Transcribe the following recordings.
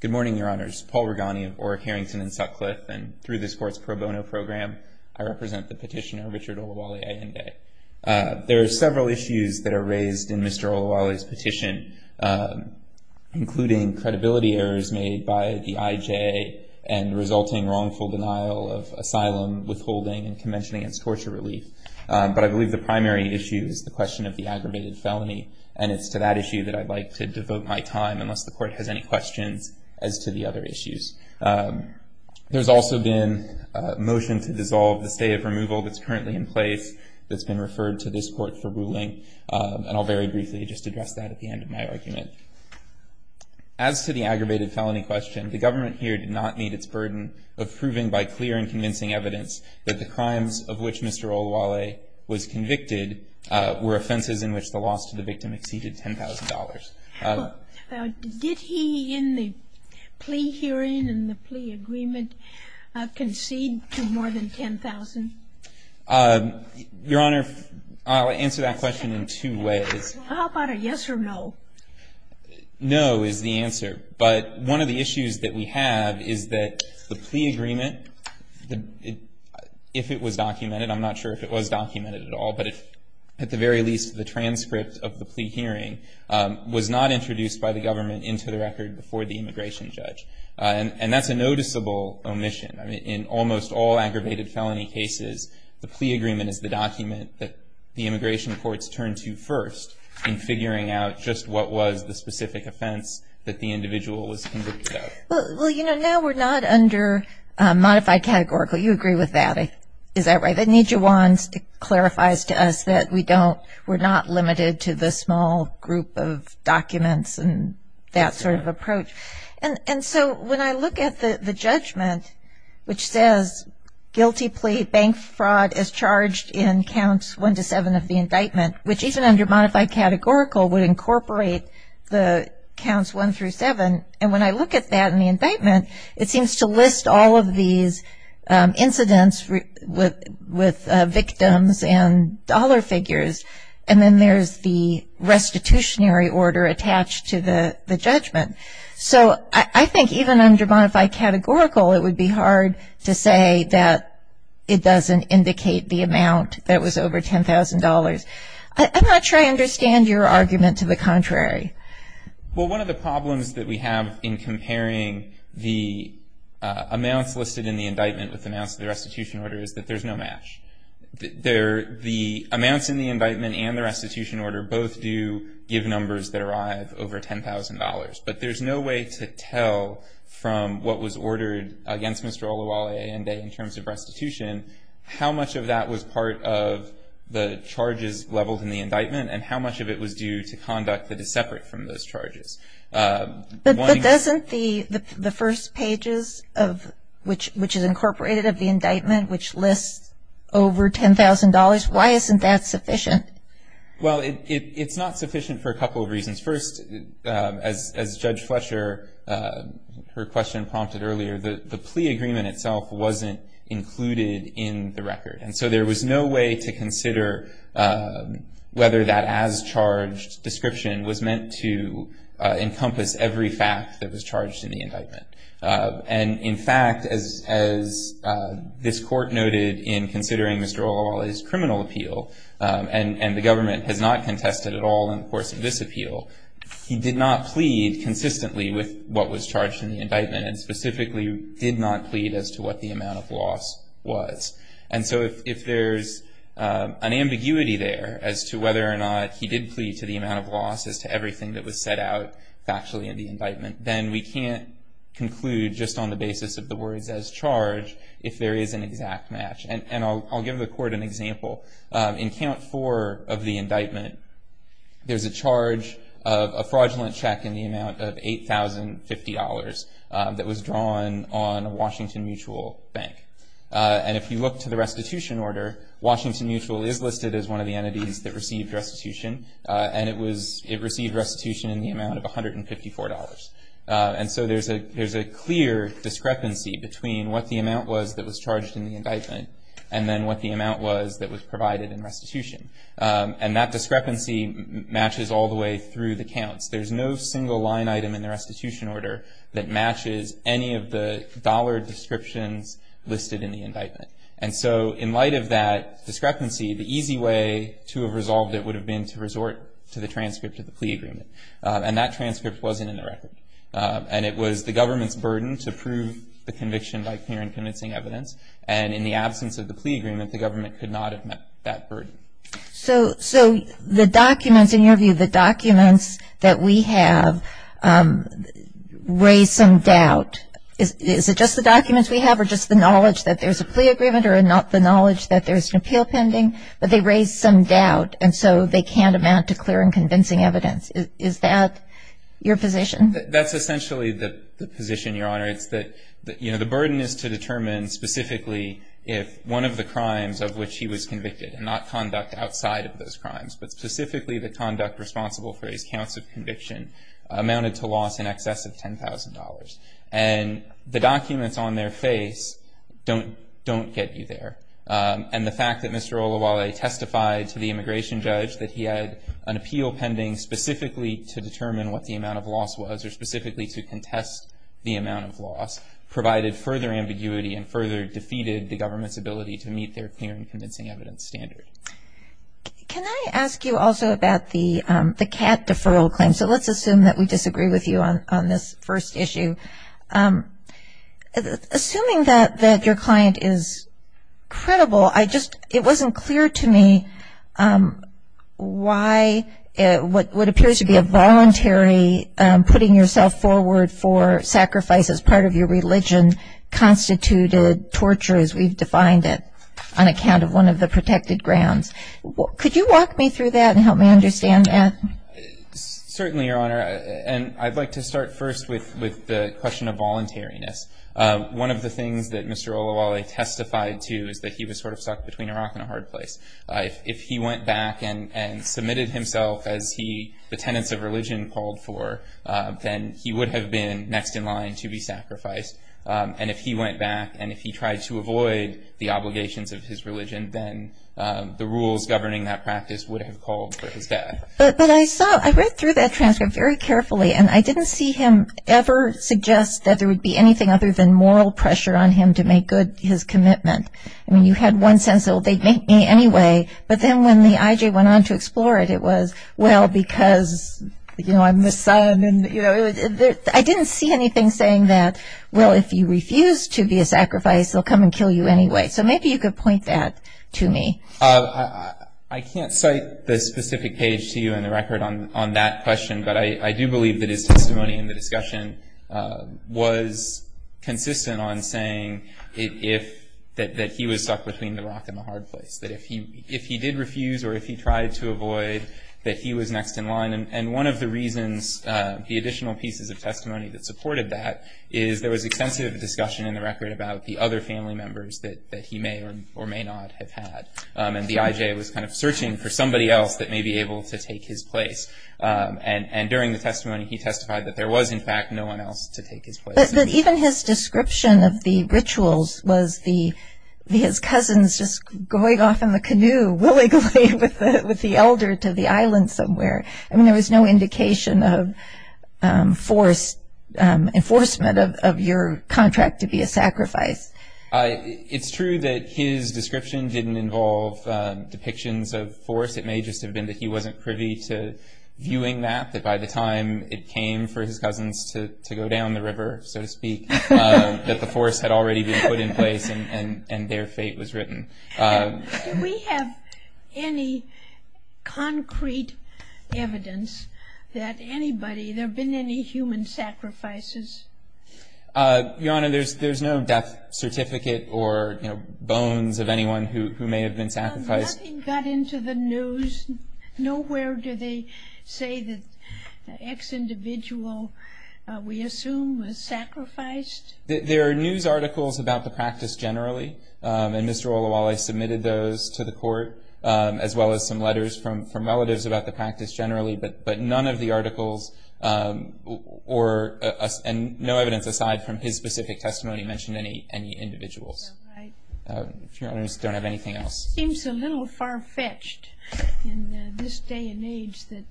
Good morning, Your Honors. Paul Regani of Orrick, Harrington, and Sutcliffe, and through this court's pro bono program, I represent the petitioner, Richard Olawale-Ayinde. There are several issues that are raised in Mr. Olawale's petition, including credibility errors made by the IJA and resulting wrongful denial of asylum, withholding, and prevention against torture relief. But I believe the primary issue is the question of the aggravated felony, and it's to that issue that I'd like to devote my time, unless the court has any questions, as to the other issues. There's also been a motion to dissolve the stay of removal that's currently in place that's been referred to this court for ruling, and I'll very briefly just address that at the end of my argument. As to the aggravated felony question, the government here did not meet its burden of proving by clear and convincing evidence that the crimes of which Mr. Olawale was convicted were offenses in which the loss to the victim exceeded $10,000. Did he, in the plea hearing and the plea agreement, concede to more than $10,000? Your Honor, I'll answer that question in two ways. How about a yes or no? No is the answer. But one of the issues that we have is that the plea agreement, if it was documented, I'm not sure if it was documented at all, but at the very least, the transcript of the plea hearing was not introduced by the government into the record before the immigration judge. And that's a noticeable omission. I mean, in almost all aggravated felony cases, the plea agreement is the document that the immigration courts turn to first in figuring out just what was the specific offense that the individual was convicted of. Well, you know, now we're not under modified categorical. You agree with that? Is that right? It clarifies to us that we're not limited to the small group of documents and that sort of approach. And so when I look at the judgment, which says guilty plea bank fraud is charged in Counts 1-7 of the indictment, which even under modified categorical would incorporate the Counts 1-7. And when I look at that in the indictment, it seems to list all of these incidents with victims and dollar figures. And then there's the restitutionary order attached to the judgment. So I think even under modified categorical, it would be hard to say that it doesn't indicate the amount that was over $10,000. I'm not sure I understand your argument to the contrary. Well, one of the problems that we have in comparing the amounts listed in the indictment with the amounts of the restitution order is that there's no match. The amounts in the indictment and the restitution order both do give numbers that arrive over $10,000. But there's no way to tell from what was ordered against Mr. Oluwole and in terms of restitution how much of that was part of the charges leveled in the indictment and how much of it was due to conduct that is separate from those charges. But doesn't the first pages, which is incorporated of the indictment, which lists over $10,000, why isn't that sufficient? Well, it's not sufficient for a couple of reasons. First, as Judge Fletcher, her question prompted earlier, the plea agreement itself wasn't included in the record. And so there was no way to consider whether that as-charged description was meant to encompass every fact that was charged in the indictment. And in fact, as this court noted in considering Mr. Oluwole's criminal appeal, and the government has not contested at all in the course of this appeal, he did not plead consistently with what was charged in the indictment and specifically did not plead as to what the amount of loss was. And so if there's an ambiguity there as to whether or not he did plead to the amount of loss as to everything that was set out factually in the indictment, then we can't conclude just on the basis of the words as-charged if there is an exact match. And I'll give the court an example. In count four of the indictment, there's a charge of a fraudulent check in the amount of $8,050 that was drawn on a Washington Mutual Bank. And if you look to the restitution order, Washington Mutual is listed as one of the entities that received restitution. And it received restitution in the amount of $154. And so there's a clear discrepancy between what the amount was that was charged in the indictment and then what the amount was that was provided in restitution. And that discrepancy matches all the way through the counts. There's no single line item in the restitution order that matches any of the dollar descriptions listed in the indictment. And so in light of that discrepancy, the easy way to have resolved it would have been to resort to the transcript of the plea agreement. And that transcript wasn't in the record. And it was the government's burden to prove the conviction by clear and convincing evidence. And in the absence of the plea agreement, the government could not have met that burden. So the documents, in your view, the documents that we have raise some doubt. Is it just the documents we have or just the knowledge that there's a plea agreement or the knowledge that there's an appeal pending? But they raise some doubt, and so they can't amount to clear and convincing evidence. Is that your position? That's essentially the position, Your Honor. It's that, you know, the burden is to determine specifically if one of the crimes of which he was convicted and not conduct outside of those crimes, but specifically the conduct responsible for his counts of conviction amounted to loss in excess of $10,000. And the documents on their face don't get you there. And the fact that Mr. Oluwole testified to the immigration judge that he had an appeal pending specifically to determine what the amount of loss was or specifically to contest the amount of loss provided further ambiguity and further defeated the government's ability to meet their clear and convincing evidence standard. Can I ask you also about the CAT deferral claim? So let's assume that we disagree with you on this first issue. Assuming that your client is credible, it wasn't clear to me why what appears to be a voluntary putting yourself forward for sacrifice as part of your religion constituted torture as we've defined it on account of one of the protected grounds. Could you walk me through that and help me understand that? Certainly, Your Honor. And I'd like to start first with the question of voluntariness. One of the things that Mr. Oluwole testified to is that he was sort of stuck between a rock and a hard place. If he went back and submitted himself as the tenants of religion called for, then he would have been next in line to be sacrificed. And if he went back and if he tried to avoid the obligations of his religion, then the rules governing that practice would have called for his death. But I saw, I read through that transcript very carefully, and I didn't see him ever suggest that there would be anything other than moral pressure on him to make good his commitment. I mean, you had one sense that, well, they'd make me anyway. But then when the IJ went on to explore it, it was, well, because, you know, I'm the son and, you know, I didn't see anything saying that, well, if you refuse to be a sacrifice, they'll come and kill you anyway. So maybe you could point that to me. I can't cite the specific page to you in the record on that question, but I do believe that his testimony in the discussion was consistent on saying that he was stuck between the rock and the hard place. That if he did refuse or if he tried to avoid, that he was next in line. And one of the reasons the additional pieces of testimony that supported that is there was extensive discussion in the record about the other family members that he may or may not have had. And the IJ was kind of searching for somebody else that may be able to take his place. And during the testimony, he testified that there was, in fact, no one else to take his place. But even his description of the rituals was his cousins just going off in the canoe, willingly with the elder to the island somewhere. I mean, there was no indication of enforcement of your contract to be a sacrifice. It's true that his description didn't involve depictions of force. It may just have been that he wasn't privy to viewing that, that by the time it came for his cousins to go down the river, so to speak, that the force had already been put in place and their fate was written. Do we have any concrete evidence that anybody, there have been any human sacrifices? Your Honor, there's no death certificate or, you know, bones of anyone who may have been sacrificed. Nothing got into the news? Nowhere do they say that the ex-individual, we assume, was sacrificed? There are news articles about the practice generally. And Mr. Oluwole submitted those to the court, as well as some letters from relatives about the practice generally. But none of the articles, and no evidence aside from his specific testimony, mentioned any individuals. Your Honor, I just don't have anything else. It seems a little far-fetched in this day and age that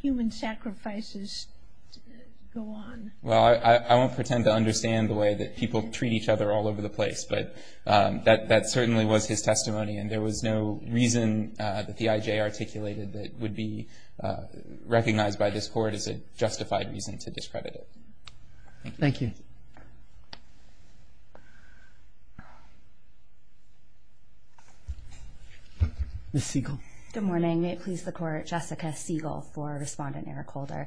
human sacrifices go on. Well, I won't pretend to understand the way that people treat each other all over the place, but that certainly was his testimony, and there was no reason that the IJ articulated that would be recognized by this Court as a justified reason to discredit it. Thank you. Ms. Siegel. Good morning. May it please the Court, Jessica Siegel for Respondent Eric Holder.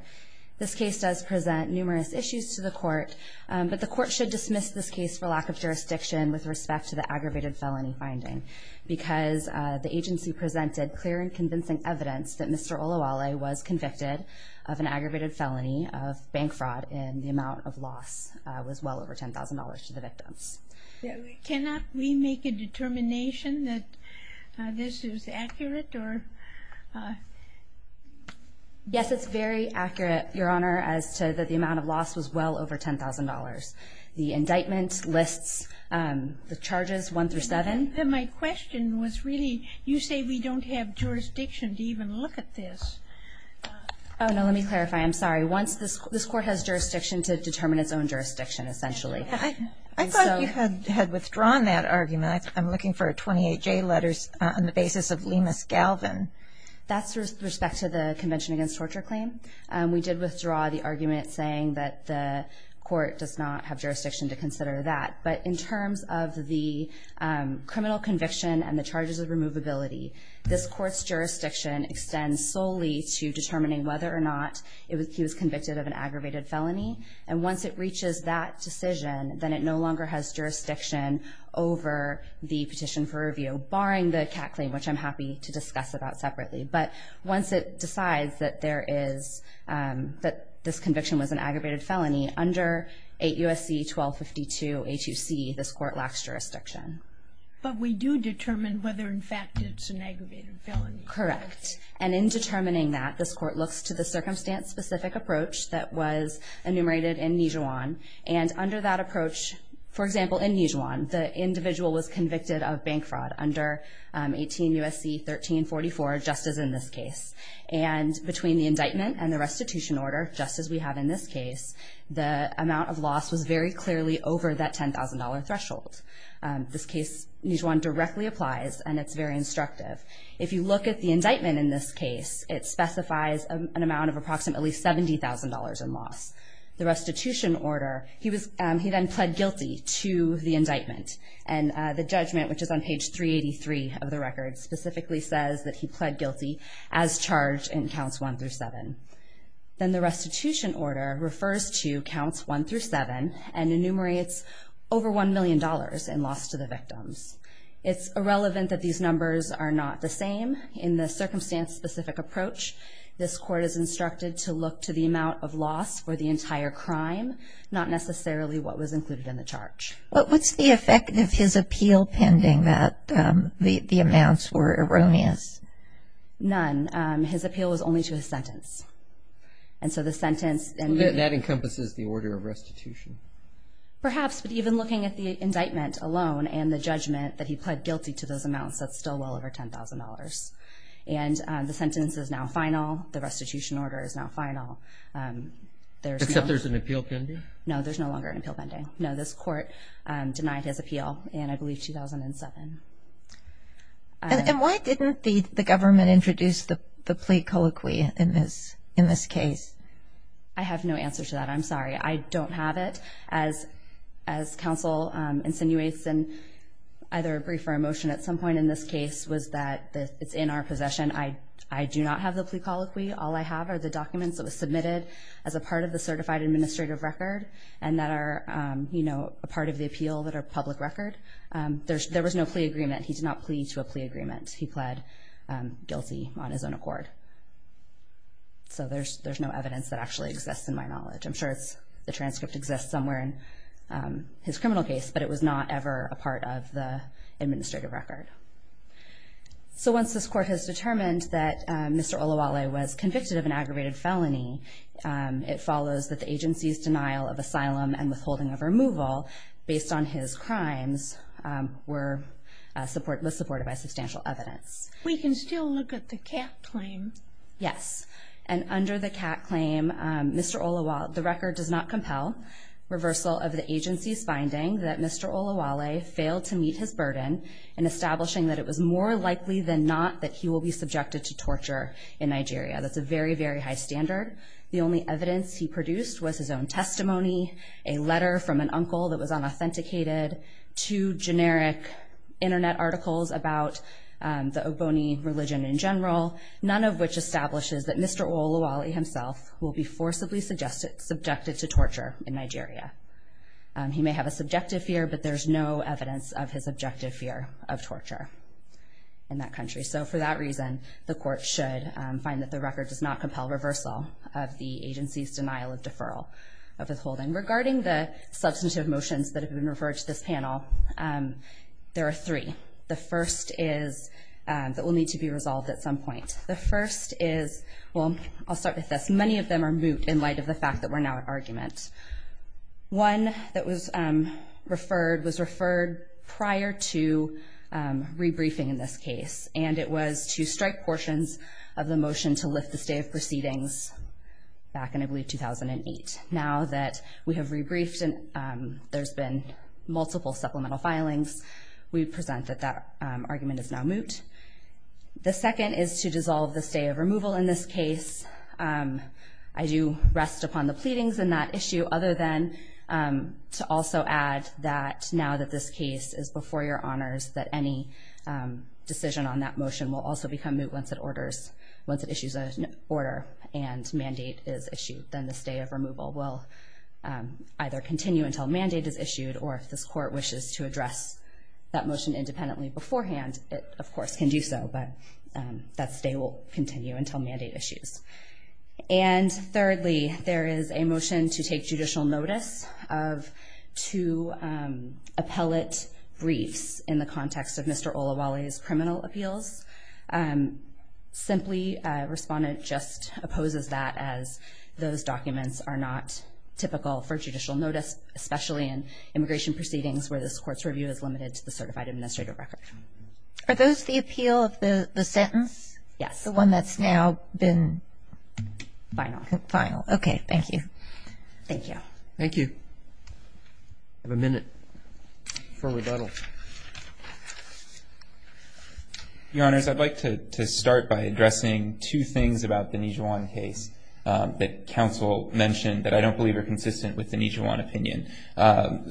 This case does present numerous issues to the Court, but the Court should dismiss this case for lack of jurisdiction with respect to the aggravated felony finding, because the agency presented clear and convincing evidence that Mr. Oluwole was convicted of an aggravated felony of bank fraud, and the amount of loss was well over $10,000 to the victims. Can we make a determination that this is accurate? Yes, it's very accurate, Your Honor, as to the amount of loss was well over $10,000. The indictment lists the charges one through seven. My question was really, you say we don't have jurisdiction to even look at this. Oh, no. Let me clarify. I'm sorry. This Court has jurisdiction to determine its own jurisdiction, essentially. I thought you had withdrawn that argument. I'm looking for 28J letters on the basis of Lemus Galvin. That's with respect to the Convention Against Torture claim. We did withdraw the argument saying that the Court does not have jurisdiction to consider that. But in terms of the criminal conviction and the charges of removability, this Court's jurisdiction extends solely to determining whether or not he was convicted of an aggravated felony. And once it reaches that decision, then it no longer has jurisdiction over the petition for review, barring the CAC claim, which I'm happy to discuss about separately. But once it decides that this conviction was an aggravated felony, under 8 U.S.C. 1252 H.U.C., this Court lacks jurisdiction. But we do determine whether, in fact, it's an aggravated felony. Correct. And in determining that, this Court looks to the circumstance-specific approach that was enumerated in Nijuan. And under that approach, for example, in Nijuan, the individual was convicted of bank fraud under 18 U.S.C. 1344, just as in this case. And between the indictment and the restitution order, just as we have in this case, the amount of loss was very clearly over that $10,000 threshold. This case, Nijuan, directly applies, and it's very instructive. If you look at the indictment in this case, it specifies an amount of approximately $70,000 in loss. The restitution order, he then pled guilty to the indictment. And the judgment, which is on page 383 of the record, specifically says that he pled guilty as charged in counts 1 through 7. Then the restitution order refers to counts 1 through 7 and enumerates over $1 million in loss to the victims. It's irrelevant that these numbers are not the same. In the circumstance-specific approach, this Court is instructed to look to the amount of loss for the entire crime, not necessarily what was included in the charge. But what's the effect of his appeal pending that the amounts were erroneous? None. His appeal was only to his sentence. And so the sentence and the- That encompasses the order of restitution. Perhaps, but even looking at the indictment alone and the judgment that he pled guilty to those amounts, that's still well over $10,000. And the sentence is now final. The restitution order is now final. Except there's an appeal pending? No, there's no longer an appeal pending. No, this Court denied his appeal in, I believe, 2007. And why didn't the government introduce the plea colloquy in this case? I have no answer to that. I'm sorry. I don't have it. As counsel insinuates in either a brief or a motion at some point in this case, was that it's in our possession. I do not have the plea colloquy. All I have are the documents that were submitted as a part of the certified administrative record and that are, you know, a part of the appeal that are public record. There was no plea agreement. He did not plea to a plea agreement. He pled guilty on his own accord. So there's no evidence that actually exists in my knowledge. I'm sure the transcript exists somewhere in his criminal case, but it was not ever a part of the administrative record. So once this Court has determined that Mr. Oluwole was convicted of an aggravated felony, it follows that the agency's denial of asylum and withholding of removal based on his crimes was supported by substantial evidence. We can still look at the cat claim. Yes. And under the cat claim, Mr. Oluwole, the record does not compel reversal of the agency's finding that Mr. Oluwole failed to meet his burden in establishing that it was more likely than not that he will be subjected to torture in Nigeria. That's a very, very high standard. The only evidence he produced was his own testimony, a letter from an uncle that was unauthenticated, two generic Internet articles about the Oboni religion in general, none of which establishes that Mr. Oluwole himself will be forcibly subjected to torture in Nigeria. He may have a subjective fear, but there's no evidence of his objective fear of torture in that country. So for that reason, the Court should find that the record does not compel reversal of the agency's denial of deferral of withholding. Regarding the substantive motions that have been referred to this panel, there are three. The first is that will need to be resolved at some point. The first is, well, I'll start with this. Many of them are moot in light of the fact that we're now at argument. One that was referred was referred prior to rebriefing in this case, and it was to strike portions of the motion to lift the stay of proceedings back in, I believe, 2008. Now that we have rebriefed and there's been multiple supplemental filings, we present that that argument is now moot. The second is to dissolve the stay of removal in this case. I do rest upon the pleadings in that issue, other than to also add that now that this case is before your honors, that any decision on that motion will also become moot once it issues an order and mandate is issued. Then the stay of removal will either continue until mandate is issued or if this court wishes to address that motion independently beforehand, it, of course, can do so, but that stay will continue until mandate issues. And thirdly, there is a motion to take judicial notice of two appellate briefs in the context of Mr. Olawale's criminal appeals. Simply, a respondent just opposes that as those documents are not typical for judicial notice, especially in immigration proceedings where this court's review is limited to the certified administrative record. Are those the appeal of the sentence? Yes. The one that's now been final. Final. Okay. Thank you. Thank you. Thank you. I have a minute for rebuttal. Your honors, I'd like to start by addressing two things about the Nijuan case that counsel mentioned that I don't believe are consistent with the Nijuan opinion.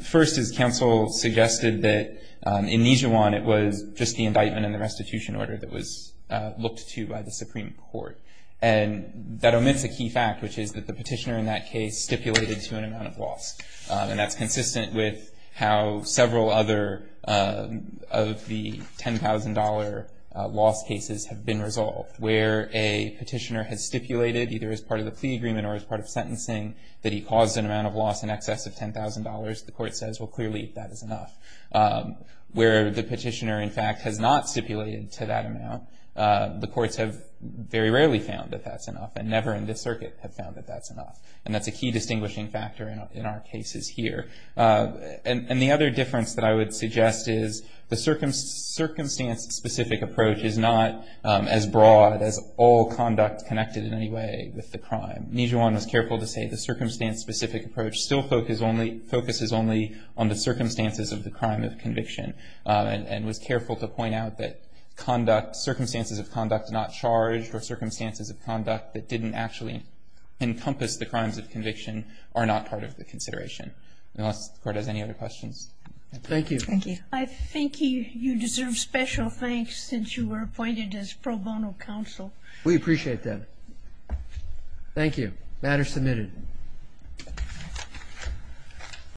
First, as counsel suggested, that in Nijuan it was just the indictment and the restitution order that was looked to by the Supreme Court. And that omits a key fact, which is that the petitioner in that case stipulated to an amount of loss, and that's consistent with how several other of the $10,000 loss cases have been resolved, where a petitioner has stipulated either as part of the plea agreement or as part of sentencing that he caused an amount of loss in excess of $10,000, the court says, well, clearly that is enough. Where the petitioner, in fact, has not stipulated to that amount, the courts have very rarely found that that's enough and never in this circuit have found that that's enough. And that's a key distinguishing factor in our cases here. And the other difference that I would suggest is the circumstance-specific approach is not as broad as all conduct connected in any way with the crime. Nijuan was careful to say the circumstance-specific approach still focuses only on the circumstances of the crime of conviction and was careful to point out that circumstances of conduct not charged or circumstances of conduct that didn't actually encompass the crimes of conviction are not part of the consideration. Unless the court has any other questions. Thank you. Thank you. I think you deserve special thanks since you were appointed as pro bono counsel. We appreciate that. Thank you. Matter submitted.